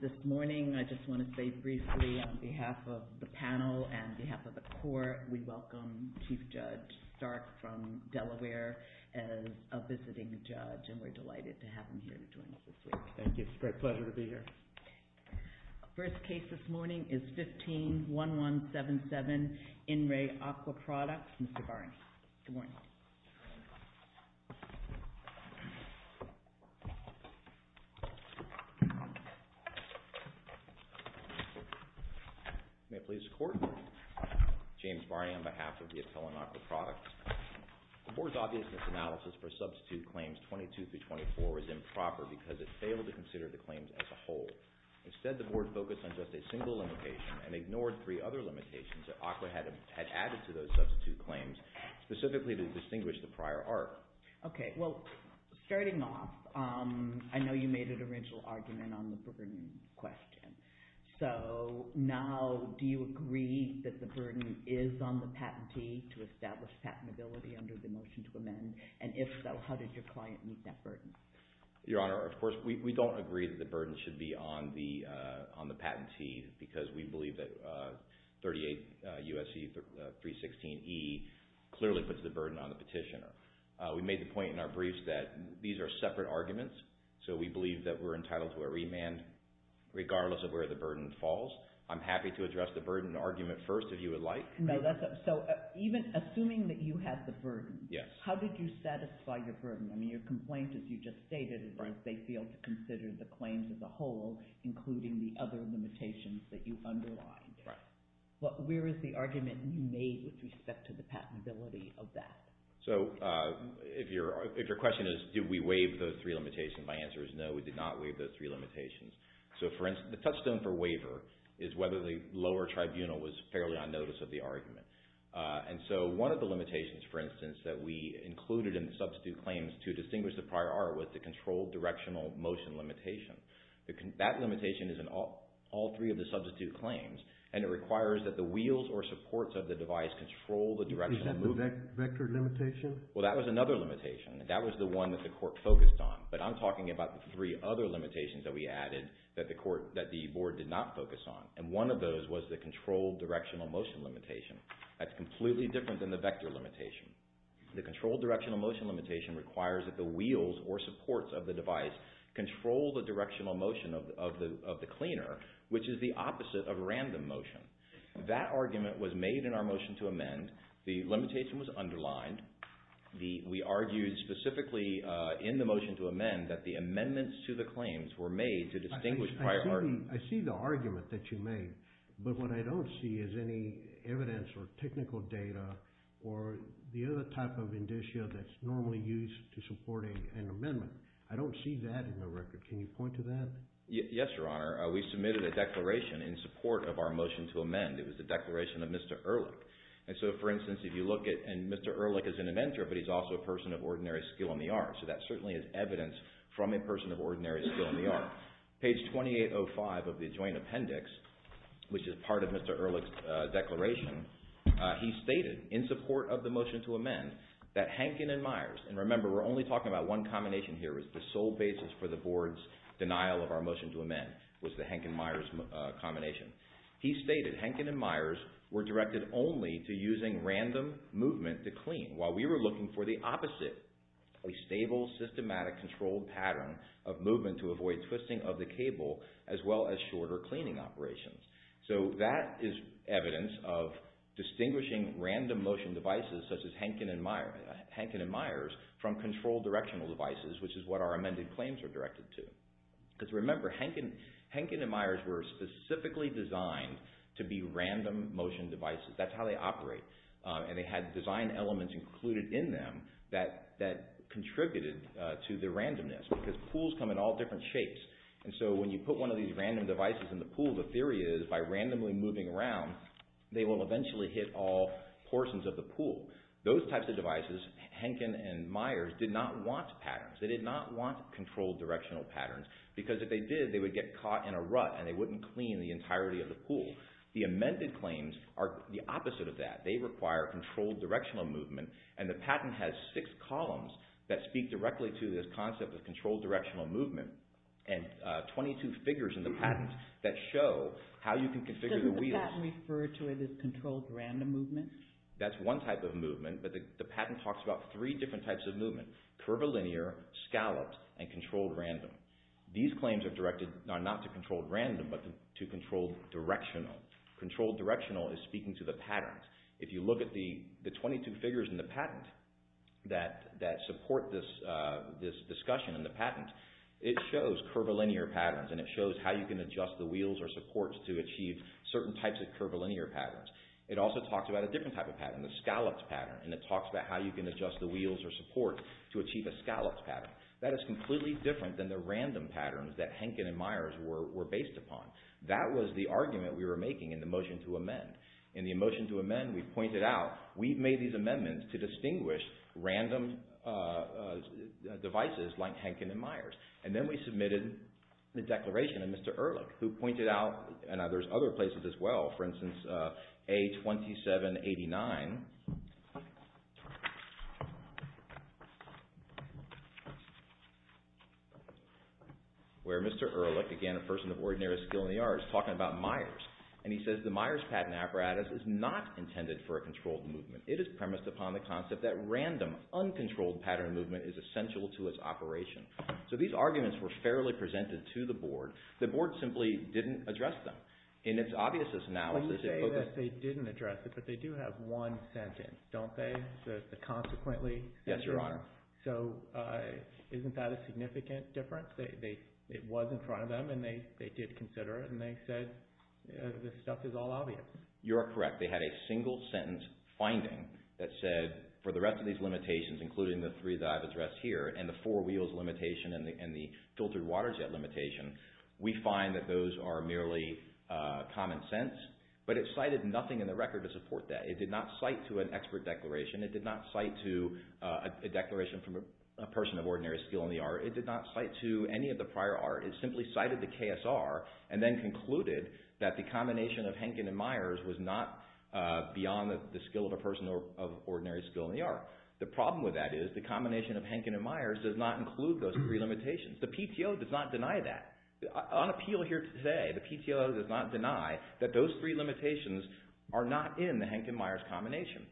This morning, I just want to say briefly on behalf of the panel and behalf of the court, we welcome Chief Judge Stark from Delaware as a visiting judge, and we're delighted to have him here to join us this week. Thank you. It's a great pleasure to be here. First case this morning is 15-1177, In Re Aqua Products. Mr. Barney, good morning. May it please the court? James Barney on behalf of the Appellant Aqua Products. The board's obviousness analysis for substitute claims 22-24 is improper because it failed to consider the claims as a whole. Instead, the board focused on just a single limitation and ignored three other limitations that Aqua had added to those substitute claims, specifically to distinguish the prior art. Okay. Well, starting off, I know you made an original argument on the burden question. So now, do you agree that the burden is on the patentee to establish patentability under the motion to amend? And if so, how did your client meet that burden? Your Honor, of course, we don't agree that the burden should be on the patentee because we believe that 38 U.S.C. 316E clearly puts the burden on the petitioner. We made the point in our briefs that these are separate arguments, so we believe that we're entitled to a remand regardless of where the burden falls. I'm happy to address the burden argument first, if you would like. So even assuming that you had the burden, how did you satisfy your burden? I mean, your complaint, as you just stated, is that they failed to consider the claims as a whole, including the other limitations that you underlined. Right. But where is the argument you made with respect to the patentability of that? So if your question is, did we waive those three limitations, my answer is no, we did not waive those three limitations. So for instance, the touchstone for waiver is whether the lower tribunal was fairly on notice of the argument. And so one of the limitations, for instance, that we included in the substitute claims to distinguish the prior art was the controlled directional motion limitation. That limitation is in all three of the substitute claims, and it requires that the wheels or supports of the device control the directional movement. Is that the vector limitation? Well, that was another limitation, and that was the one that the court focused on. But I'm talking about the three other limitations that we added that the board did not focus on, and one of those was the controlled directional motion limitation. That's completely different than the vector limitation. The controlled directional motion limitation requires that the wheels or supports of the device control the directional motion of the cleaner, which is the opposite of random motion. That argument was made in our motion to amend. The limitation was underlined. We argued specifically in the motion to amend that the amendments to the claims were made to distinguish prior art. I see the argument that you made, but what I don't see is any evidence or technical data or the other type of indicia that's normally used to support an amendment. I don't see that in the record. Can you point to that? Yes, Your Honor. We submitted a declaration in support of our motion to amend. It was the declaration of Mr. Ehrlich. So, for instance, if you look at, and Mr. Ehrlich is an inventor, but he's also a person of ordinary skill in the art, so that certainly is evidence from a person of ordinary skill in the art. Now, page 2805 of the joint appendix, which is part of Mr. Ehrlich's declaration, he stated in support of the motion to amend that Henkin and Myers, and remember we're only talking about one combination here, the sole basis for the board's denial of our motion to amend was the Henkin and Myers combination. He stated Henkin and Myers were directed only to using random movement to clean, while we were looking for the opposite, a stable, systematic, controlled pattern of movement to avoid twisting of the cable, as well as shorter cleaning operations. So, that is evidence of distinguishing random motion devices such as Henkin and Myers from controlled directional devices, which is what our amended claims are directed to. Because remember, Henkin and Myers were specifically designed to be random motion devices. That's how they operate, and they had design elements included in them that contributed to the randomness, because pools come in all different shapes, and so when you put one of these random devices in the pool, the theory is by randomly moving around, they will eventually hit all portions of the pool. Those types of devices, Henkin and Myers, did not want patterns. They did not want controlled directional patterns, because if they did, they would get caught in a rut, and they wouldn't clean the entirety of the pool. The amended claims are the opposite of that. They require controlled directional movement, and the patent has six columns that speak directly to this concept of controlled directional movement, and 22 figures in the patent that show how you can configure the wheels. Does the patent refer to it as controlled random movement? That's one type of movement, but the patent talks about three different types of movement, curvilinear, scalloped, and controlled random. These claims are directed not to controlled random, but to controlled directional. Controlled directional is speaking to the patterns. If you look at the 22 figures in the patent that support this discussion in the patent, it shows curvilinear patterns, and it shows how you can adjust the wheels or supports to achieve certain types of curvilinear patterns. It also talks about a different type of pattern, the scalloped pattern, and it talks about how you can adjust the wheels or supports to achieve a scalloped pattern. That is completely different than the random patterns that Henkin and Myers were based upon. That was the argument we were making in the motion to amend. In the motion to amend, we pointed out we've made these amendments to distinguish random devices like Henkin and Myers, and then we submitted the declaration of Mr. Ehrlich, who pointed out, and there's other places as well, for instance, A2789, where Mr. Ehrlich, again, a person of ordinary skill in the arts, is talking about Myers, and he says the Myers patent apparatus is not intended for a controlled movement. It is premised upon the concept that random, uncontrolled pattern movement is essential to its operation. So these arguments were fairly presented to the board. The board simply didn't address them. In its obvious analysis, it focused… Yes, Your Honor. So isn't that a significant difference? It was in front of them, and they did consider it, and they said the stuff is all obvious. You are correct. They had a single-sentence finding that said for the rest of these limitations, including the three that I've addressed here and the four wheels limitation and the filtered water jet limitation, we find that those are merely common sense, but it cited nothing in the record to support that. It did not cite to an expert declaration. It did not cite to a declaration from a person of ordinary skill in the art. It did not cite to any of the prior art. It simply cited the KSR and then concluded that the combination of Henkin and Myers was not beyond the skill of a person of ordinary skill in the art. The problem with that is the combination of Henkin and Myers does not include those three limitations. The PTO does not deny that. On appeal here today, the PTO does not deny that those three limitations are not in the Henkin-Myers combination.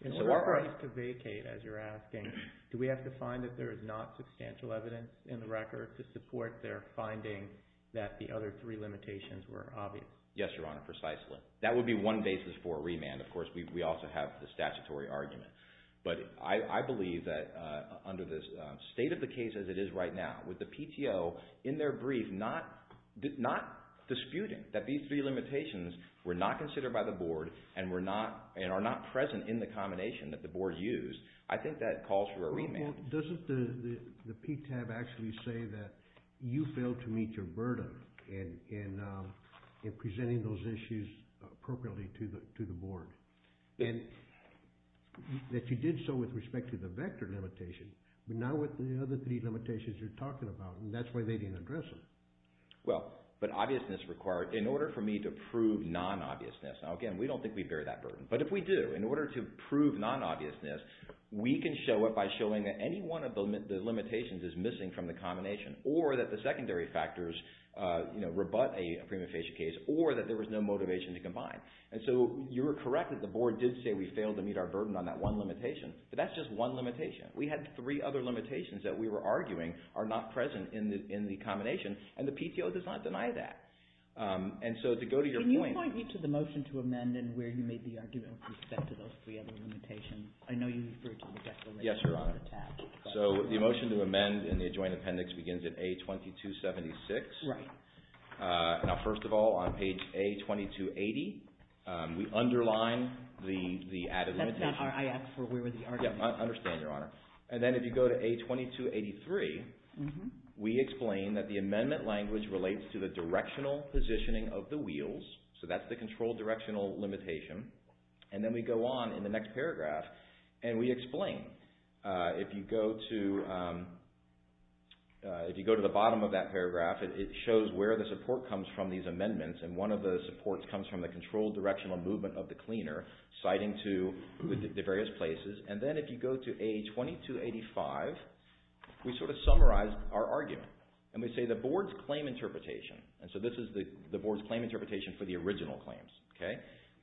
In order for us to vacate, as you're asking, do we have to find that there is not substantial evidence in the record to support their finding that the other three limitations were obvious? Yes, Your Honor, precisely. That would be one basis for a remand. Of course, we also have the statutory argument. But I believe that under the state of the case as it is right now, with the PTO in their brief not disputing that these three limitations were not considered by the board and are not present in the combination that the board used, I think that calls for a remand. Well, doesn't the PTAB actually say that you failed to meet your burden in presenting those issues appropriately to the board and that you did so with respect to the vector limitation but not with the other three limitations you're talking about, and that's why they didn't address them? Well, but obviousness required in order for me to prove non-obviousness. Now, again, we don't think we bear that burden. But if we do, in order to prove non-obviousness, we can show it by showing that any one of the limitations is missing from the combination or that the secondary factors rebut a prima facie case or that there was no motivation to combine. And so you are correct that the board did say we failed to meet our burden on that one limitation, but that's just one limitation. We had three other limitations that we were arguing are not present in the combination and the PTO does not deny that. And so to go to your point... Can you point me to the motion to amend and where you made the argument with respect to those three other limitations? I know you referred to the vector limitation on the tab. Yes, Your Honor. So the motion to amend in the adjoint appendix begins at A2276. Right. Now, first of all, on page A2280, we underline the added limitation. I asked for where were the arguments. I understand, Your Honor. And then if you go to A2283, we explain that the amendment language relates to the directional positioning of the wheels. So that's the controlled directional limitation. And then we go on in the next paragraph and we explain. If you go to the bottom of that paragraph, it shows where the support comes from these amendments. And one of the supports comes from the controlled directional movement of the cleaner citing to the various places. And then if you go to A2285, we sort of summarize our argument. And we say the board's claim interpretation. And so this is the board's claim interpretation for the original claims.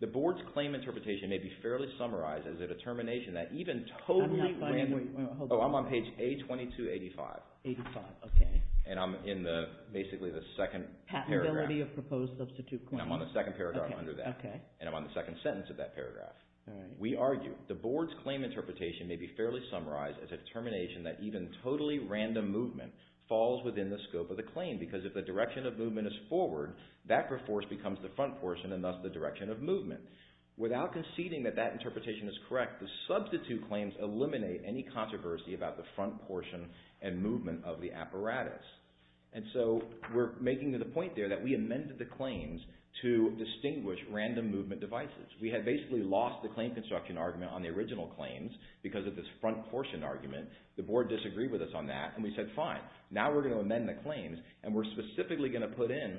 The board's claim interpretation may be fairly summarized as a determination that even totally... I'm not quite... Oh, I'm on page A2285. 85, okay. And I'm in basically the second paragraph. Patentability of proposed substitute claims. And I'm on the second paragraph under that. And I'm on the second sentence of that paragraph. We argue the board's claim interpretation may be fairly summarized as a determination that even totally random movement falls within the scope of the claim because if the direction of movement is forward, that force becomes the front portion and thus the direction of movement. Without conceding that that interpretation is correct, the substitute claims eliminate any controversy about the front portion and movement of the apparatus. And so we're making the point there that we amended the claims to distinguish random movement devices. We had basically lost the claim construction argument on the original claims because of this front portion argument. The board disagreed with us on that. And we said, fine, now we're going to amend the claims and we're specifically going to put in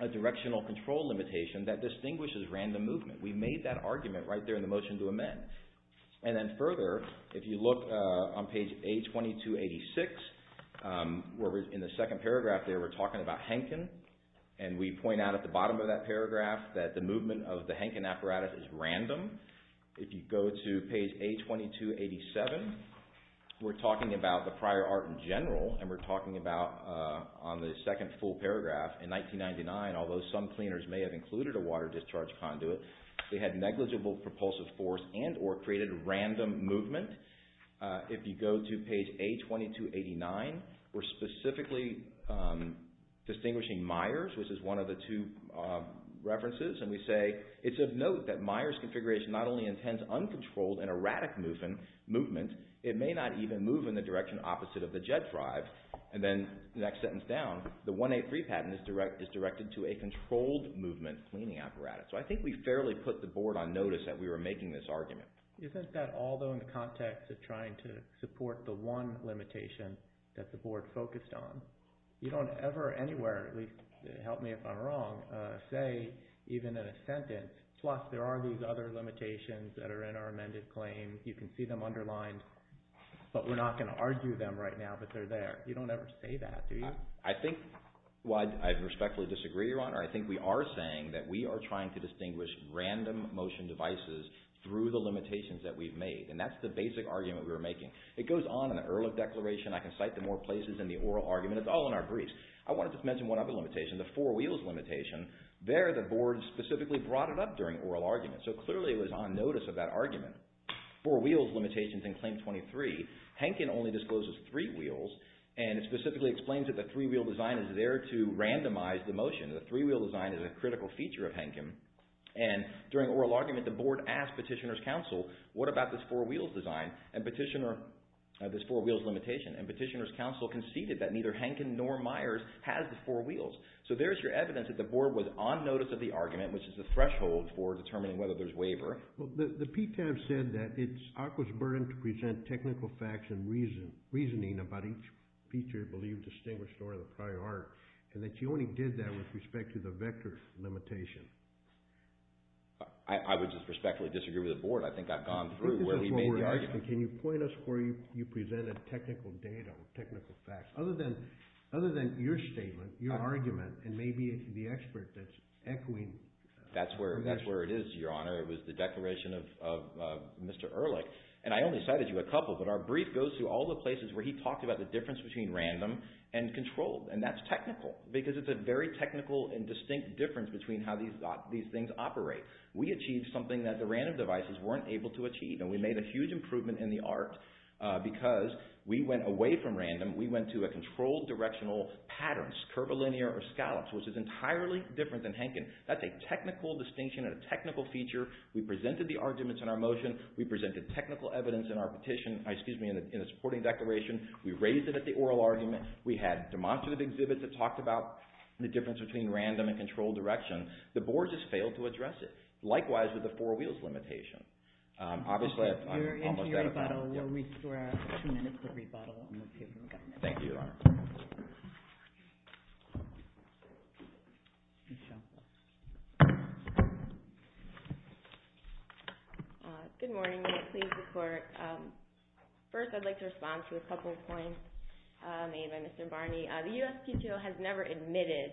a directional control limitation that distinguishes random movement. We made that argument right there in the motion to amend. And then further, if you look on page A2286, in the second paragraph there we're talking about Henkin. And we point out at the bottom of that paragraph that the movement of the Henkin apparatus is random. If you go to page A2287, we're talking about the prior art in general and we're talking about on the second full paragraph, in 1999, although some cleaners may have included a water discharge conduit, they had negligible propulsive force and or created random movement. If you go to page A2289, we're specifically distinguishing Myers, which is one of the two references. And we say, it's of note that Myers configuration not only intends uncontrolled and erratic movement, it may not even move in the direction opposite of the jet drive. And then the next sentence down, the 183 patent is directed to a controlled movement cleaning apparatus. So I think we fairly put the board on notice that we were making this argument. Isn't that although in the context of trying to support the one limitation that the board focused on, you don't ever anywhere, at least help me if I'm wrong, say even in a sentence, plus there are these other limitations that are in our amended claim, you can see them underlined, but we're not going to argue them right now, but they're there. You don't ever say that, do you? I think I respectfully disagree, Your Honor. I think we are saying that we are trying to distinguish random motion devices through the limitations that we've made. And that's the basic argument we were making. It goes on in the Ehrlich Declaration. I can cite them more places in the oral argument. It's all in our briefs. I wanted to mention one other limitation, the four wheels limitation. There the board specifically brought it up during oral argument. So clearly it was on notice of that argument. Four wheels limitations in Claim 23. Hankin only discloses three wheels, and it specifically explains that the three-wheel design is there to randomize the motion. The three-wheel design is a critical feature of Hankin. And during oral argument, the board asked petitioner's counsel, what about this four-wheels design, this four-wheels limitation? And petitioner's counsel conceded that neither Hankin nor Myers has the four wheels. So there's your evidence that the board was on notice of the argument, which is the threshold for determining whether there's waiver. The PTAB said that it's ACWA's burden to present technical facts and reasoning about each feature believed distinguished or in the prior art, and that you only did that with respect to the vector limitation. I would just respectfully disagree with the board. I think I've gone through where he made the argument. Can you point us where you presented technical data or technical facts? Other than your statement, your argument, and maybe the expert that's echoing. That's where it is, Your Honor. It was the declaration of Mr. Ehrlich. And I only cited you a couple, but our brief goes through all the places where he talked about the difference between random and controlled, and that's technical because it's a very technical and distinct difference between how these things operate. We achieved something that the random devices weren't able to achieve, and we made a huge improvement in the art because we went away from random. We went to a controlled directional patterns, curvilinear or scallops, which is entirely different than Henkin. That's a technical distinction and a technical feature. We presented the arguments in our motion. We presented technical evidence in our petition, excuse me, in the supporting declaration. We raised it at the oral argument. We had demonstrative exhibits that talked about the difference between random and controlled direction. The board just failed to address it, likewise with the four wheels limitation. Obviously, I'm almost out of time. We're into your rebuttal. We'll restore our two minutes for rebuttal. Thank you, Your Honor. Good morning. May it please the Court. First, I'd like to respond to a couple of points made by Mr. Barney. The USPTO has never admitted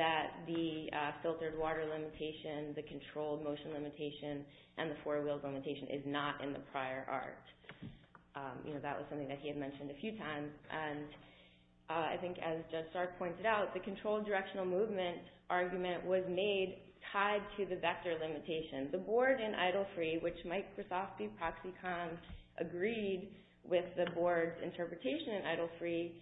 that the filtered water limitation, the controlled motion limitation, and the four wheels limitation is not in the prior art. That was something that he had mentioned a few times. I think, as Judge Stark pointed out, the controlled directional movement argument was made tied to the vector limitation. The board in Idle Free, which Mike Krasofsky, Proxycom, agreed with the board's interpretation in Idle Free,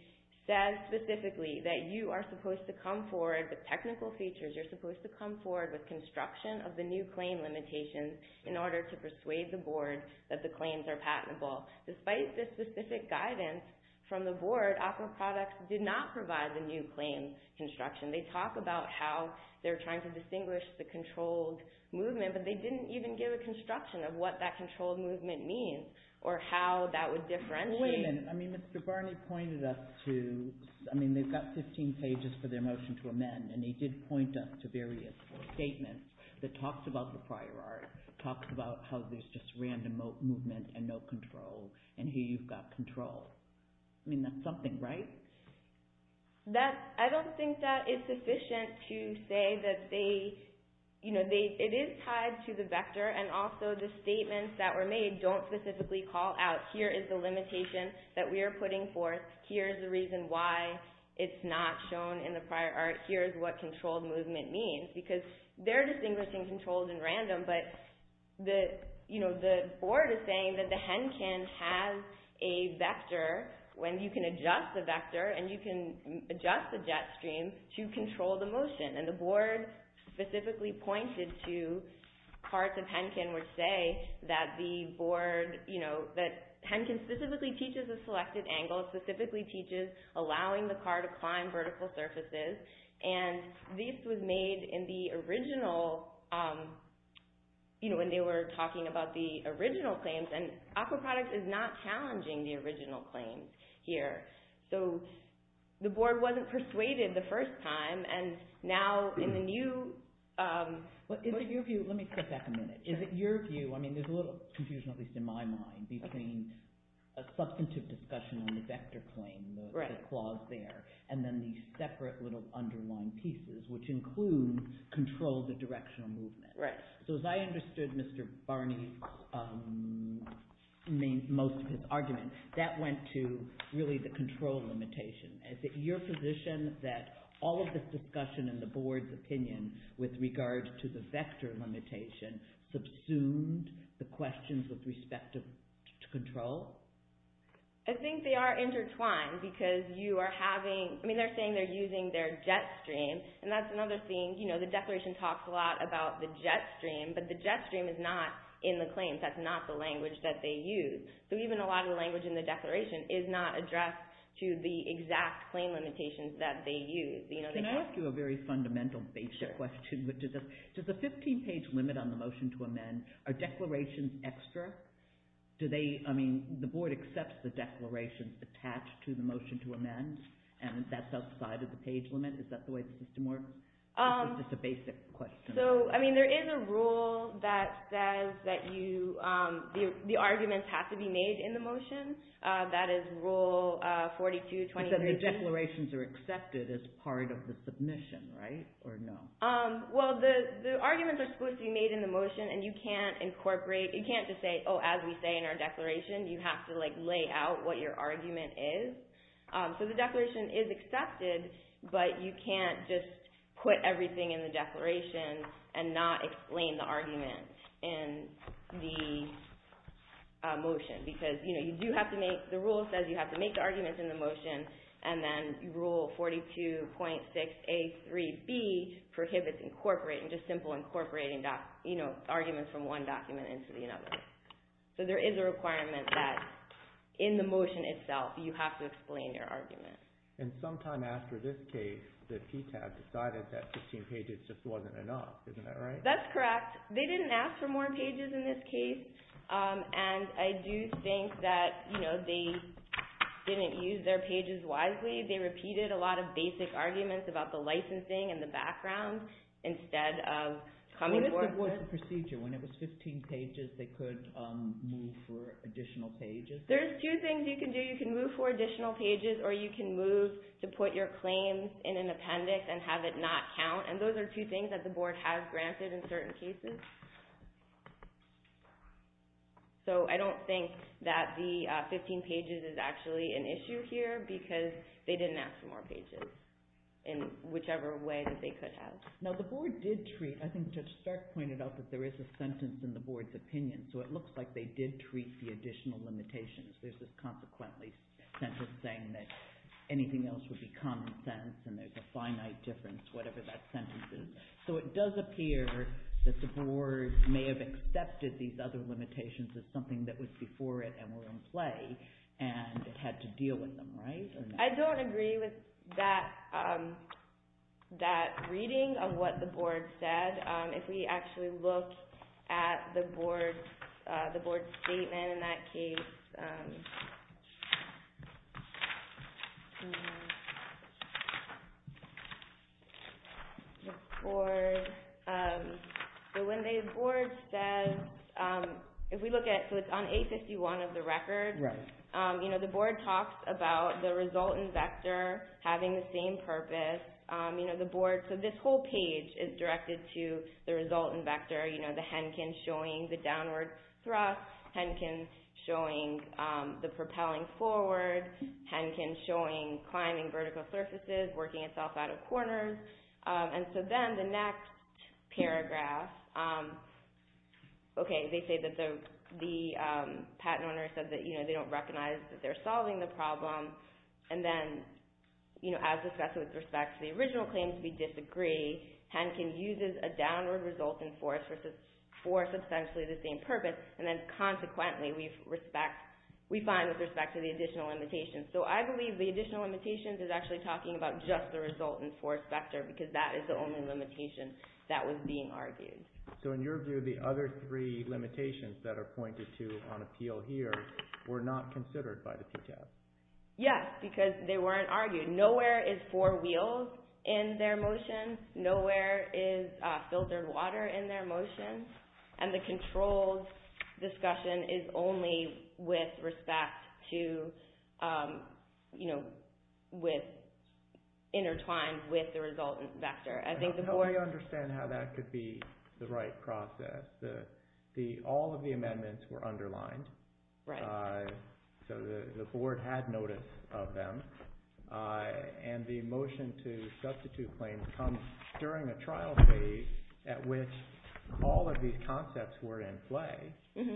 says specifically that you are supposed to come forward with technical features. You're supposed to come forward with construction of the new claim limitations in order to persuade the board that the claims are patentable. Despite this specific guidance from the board, aquaproducts did not provide the new claim construction. They talk about how they're trying to distinguish the controlled movement, but they didn't even give a construction of what that controlled movement means or how that would differentiate. Wait a minute. I mean, Mr. Barney pointed us to, I mean, they've got 15 pages for their motion to amend, and he did point us to various statements that talked about the prior art, talked about how there's just random movement and no control, and here you've got control. I mean, that's something, right? I don't think that it's sufficient to say that they, you know, it is tied to the vector, and also the statements that were made don't specifically call out here is the limitation that we are putting forth. Here is the reason why it's not shown in the prior art. Here is what controlled movement means, because they're distinguishing controlled and random, but the board is saying that the Henkin has a vector when you can adjust the vector, and you can adjust the jet stream to control the motion, and the board specifically pointed to parts of Henkin which say that the board, you know, that Henkin specifically teaches a selected angle, specifically teaches allowing the car to climb vertical surfaces, and this was made in the original, you know, when they were talking about the original claims, and aquaproduct is not challenging the original claims here. So the board wasn't persuaded the first time, and now in the new… But is it your view, let me step back a minute, is it your view, I mean there's a little confusion at least in my mind, between a substantive discussion on the vector claim, the clause there, and then these separate little underlined pieces, which include control the directional movement. So as I understood Mr. Barney's, most of his argument, that went to really the control limitation. Is it your position that all of this discussion and the board's opinion with regard to the vector limitation subsumed the questions with respect to control? I think they are intertwined because you are having, I mean they're saying they're using their jet stream, and that's another thing, you know, the declaration talks a lot about the jet stream, but the jet stream is not in the claims, that's not the language that they use. So even a lot of the language in the declaration is not addressed to the exact claim limitations that they use. Can I ask you a very fundamental basic question, which is does the 15 page limit on the motion to amend, are declarations extra? Do they, I mean the board accepts the declaration attached to the motion to amend, and that's outside of the page limit, is that the way the system works? It's just a basic question. So, I mean there is a rule that says that you, the arguments have to be made in the motion, that is rule 42, 23. But then the declarations are accepted as part of the submission, right? Or no? Well, the arguments are supposed to be made in the motion, and you can't incorporate, you can't just say, oh as we say in our declaration, you have to like lay out what your argument is. So the declaration is accepted, but you can't just put everything in the declaration and not explain the argument in the motion, because, you know, you do have to make, the rule says you have to make the arguments in the motion, and then rule 42.6A3B prohibits incorporating, just simple incorporating, you know, arguments from one document into another. So there is a requirement that in the motion itself, you have to explain your argument. And sometime after this case, the PTAC decided that 15 pages just wasn't enough, isn't that right? That's correct. They didn't ask for more pages in this case, and I do think that, you know, they didn't use their pages wisely. They repeated a lot of basic arguments about the licensing and the background instead of coming forth with... What if it was a procedure? When it was 15 pages, they could move for additional pages? There's two things you can do. You can move for additional pages, or you can move to put your claims in an appendix and have it not count, and those are two things that the board has granted in certain cases. So I don't think that the 15 pages is actually an issue here because they didn't ask for more pages in whichever way that they could have. Now, the board did treat... I think Judge Stark pointed out that there is a sentence in the board's opinion, so it looks like they did treat the additional limitations. There's this consequently sentence saying that anything else would be common sense and there's a finite difference, whatever that sentence is. So it does appear that the board may have accepted these other limitations as something that was before it and were in play and had to deal with them, right? I don't agree with that reading of what the board said. If we actually look at the board's statement in that case... The board... So when the board says... If we look at... So it's on A51 of the record. Right. You know, the board talks about the resultant vector having the same purpose. You know, the board... So this whole page is directed to the resultant vector, you know, the Henkin showing the downward thrust, Henkin showing the propelling forward, Henkin showing climbing vertical surfaces, working itself out of corners. And so then the next paragraph... Okay, they say that the patent owner said that, you know, they don't recognize that they're solving the problem. And then, you know, as discussed with respect to the original claims, we disagree. Henkin uses a downward resultant force for substantially the same purpose, and then consequently we respect... So I believe the additional limitations is actually talking about just the resultant force vector because that is the only limitation that was being argued. So in your view, the other three limitations that are pointed to on appeal here were not considered by the PTAS? Yes, because they weren't argued. Nowhere is four wheels in their motion. Nowhere is filtered water in their motion. And the controlled discussion is only with respect to, you know, intertwined with the resultant vector. How do you understand how that could be the right process? All of the amendments were underlined. Right. So the board had notice of them. And the motion to substitute claims comes during a trial phase at which all of these concepts were in play.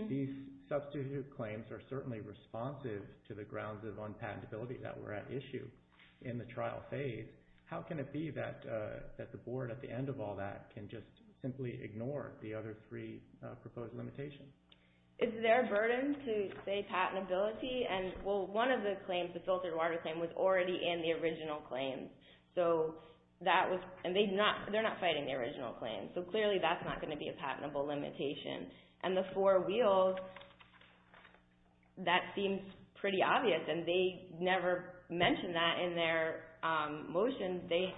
These substitute claims are certainly responsive to the grounds of unpatentability that were at issue in the trial phase. How can it be that the board, at the end of all that, can just simply ignore the other three proposed limitations? Is there a burden to, say, patentability? And, well, one of the claims, the filtered water claim, was already in the original claims. And they're not fighting the original claims. So clearly that's not going to be a patentable limitation. And the four wheels, that seems pretty obvious. And they never mention that in their motion. It's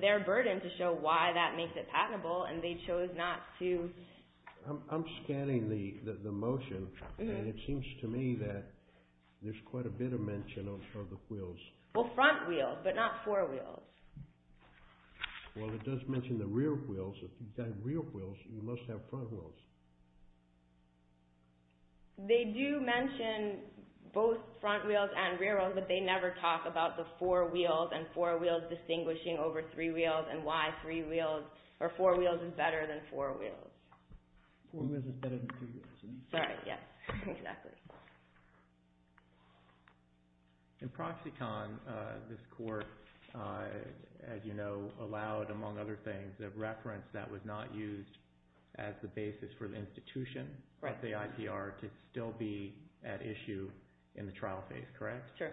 their burden to show why that makes it patentable, and they chose not to. I'm scanning the motion, and it seems to me that there's quite a bit of mention of the wheels. Well, front wheels, but not four wheels. Well, it does mention the rear wheels. If you've got rear wheels, you must have front wheels. They do mention both front wheels and rear wheels, but they never talk about the four wheels and four wheels distinguishing over three wheels, and why four wheels is better than four wheels. Four wheels is better than three wheels. Right, yes, exactly. In Proxicon, this court, as you know, allowed, among other things, the reference that was not used as the basis for the institution, the IPR, to still be at issue in the trial phase, correct? Sure.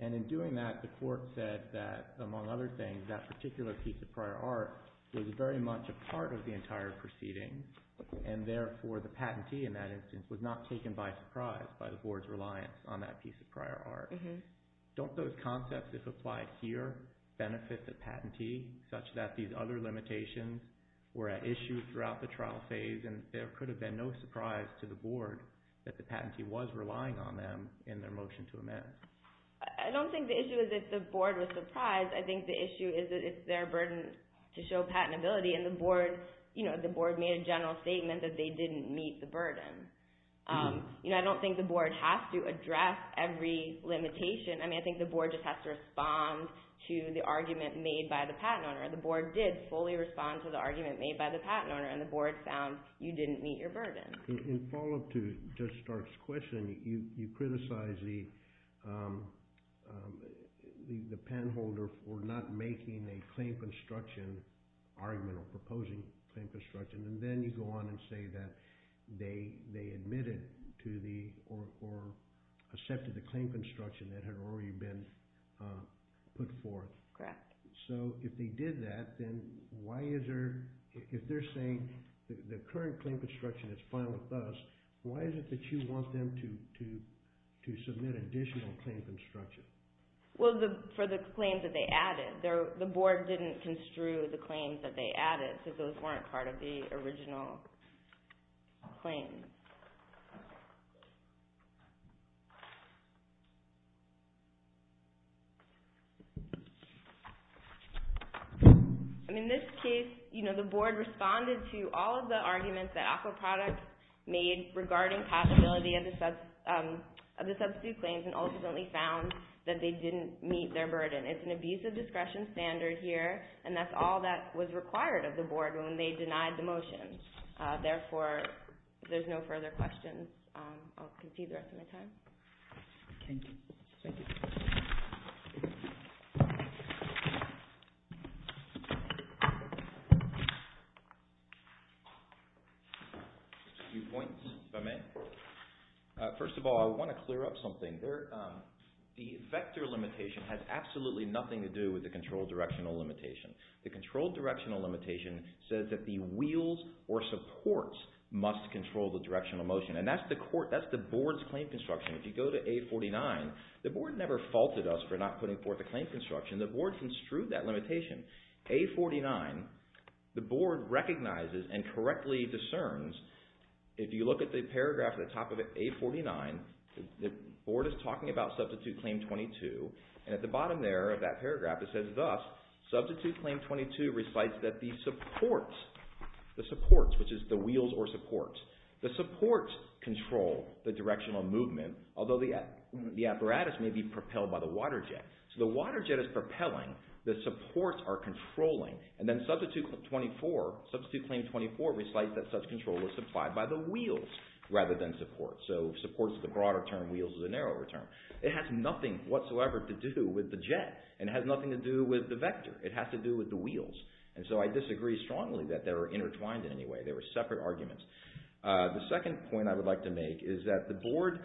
And in doing that, the court said that, among other things, that particular piece of prior art was very much a part of the entire proceeding, and therefore the patentee in that instance was not taken by surprise. It was not taken by surprise by the board's reliance on that piece of prior art. Don't those concepts, if applied here, benefit the patentee such that these other limitations were at issue throughout the trial phase and there could have been no surprise to the board that the patentee was relying on them in their motion to amend? I don't think the issue is that the board was surprised. I think the issue is that it's their burden to show patentability, and the board made a general statement that they didn't meet the burden. I don't think the board has to address every limitation. I mean, I think the board just has to respond to the argument made by the patent owner. The board did fully respond to the argument made by the patent owner, and the board found you didn't meet your burden. In follow-up to Judge Stark's question, you criticized the penholder for not making a claim construction argument or proposing claim construction, and then you go on and say that they admitted or accepted the claim construction that had already been put forth. Correct. So if they did that, then why is there... If they're saying the current claim construction is fine with us, why is it that you want them to submit additional claim construction? Well, for the claims that they added. The board didn't construe the claims that they added, because those weren't part of the original claims. And in this case, you know, the board responded to all of the arguments that Aquaproducts made regarding possibility of the substitute claims and ultimately found that they didn't meet their burden. It's an abusive discretion standard here, and that's all that was required of the board when they denied the motion. Therefore, if there's no further questions, I'll concede the rest of my time. Thank you. A few points if I may. First of all, I want to clear up something. The vector limitation has absolutely nothing to do with the controlled directional limitation. The controlled directional limitation says that the wheels or supports must control the directional motion, and that's the board's claim construction. If you go to A49, the board never faulted us for not putting forth a claim construction. The board construed that limitation. A49, the board recognizes and correctly discerns. If you look at the paragraph at the top of A49, the board is talking about substitute claim 22, and at the bottom there of that paragraph it says, thus, substitute claim 22 recites that the supports, the supports, which is the wheels or supports, the supports control the directional movement, although the apparatus may be propelled by the water jet. So the water jet is propelling. The supports are controlling, and then substitute claim 24 recites that such control was supplied by the wheels rather than supports. So supports is a broader term, wheels is a narrower term. It has nothing whatsoever to do with the jet, and it has nothing to do with the vector. It has to do with the wheels, and so I disagree strongly that they're intertwined in any way. They were separate arguments. The second point I would like to make is that the board,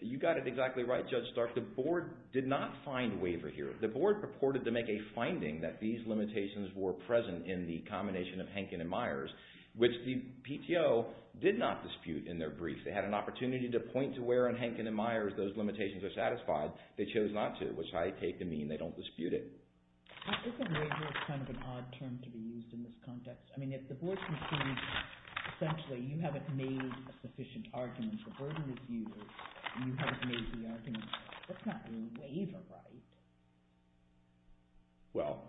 you got it exactly right, Judge Stark, the board did not find waiver here. The board purported to make a finding that these limitations were present in the combination of Hankin and Myers, which the PTO did not dispute in their brief. They had an opportunity to point to where in Hankin and Myers those limitations are satisfied. They chose not to, which I take to mean they don't dispute it. Isn't waiver kind of an odd term to be used in this context? I mean, if the board assumes essentially you haven't made a sufficient argument for burden review, and you haven't made the argument, that's not really waiver, right? Well,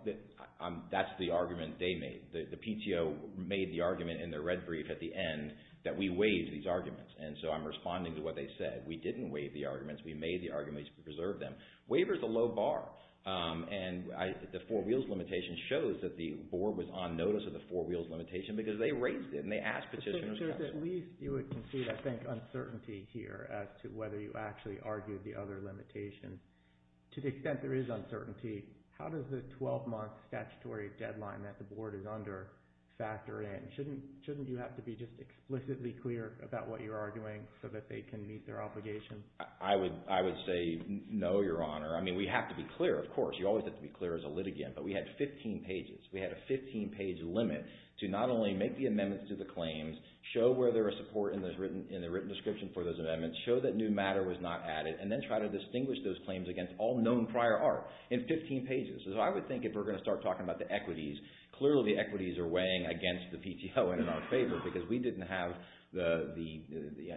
that's the argument they made. The PTO made the argument in their red brief at the end that we waived these arguments, and so I'm responding to what they said. We didn't waive the arguments. We made the arguments to preserve them. Waiver's a low bar, and the four wheels limitation shows that the board was on notice of the four wheels limitation because they raised it, and they asked petitioners... So there's at least, you would concede, I think, uncertainty here as to whether you actually argued the other limitation. To the extent there is uncertainty, how does the 12-month statutory deadline that the board is under factor in? Shouldn't you have to be just explicitly clear about what you're arguing so that they can meet their obligation? I would say no, Your Honor. I mean, we have to be clear, of course. You always have to be clear as a litigant, but we had 15 pages. We had a 15-page limit to not only make the amendments to the claims, show where there was support in the written description for those amendments, show that new matter was not added, and then try to distinguish those claims against all known prior art in 15 pages. So I would think if we're going to start talking about the equities, clearly the equities are weighing against the PTO and in our favor because we didn't have the...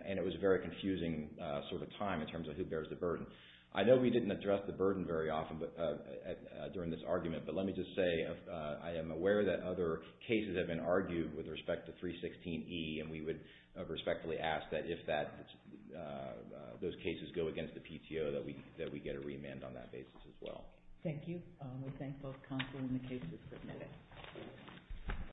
and it was a very confusing sort of time in terms of who bears the burden. I know we didn't address the burden very often during this argument, but let me just say I am aware that other cases have been argued with respect to 316E, and we would respectfully ask that if those cases go against the PTO, that we get a remand on that basis as well. Thank you. We thank both counsel and the cases.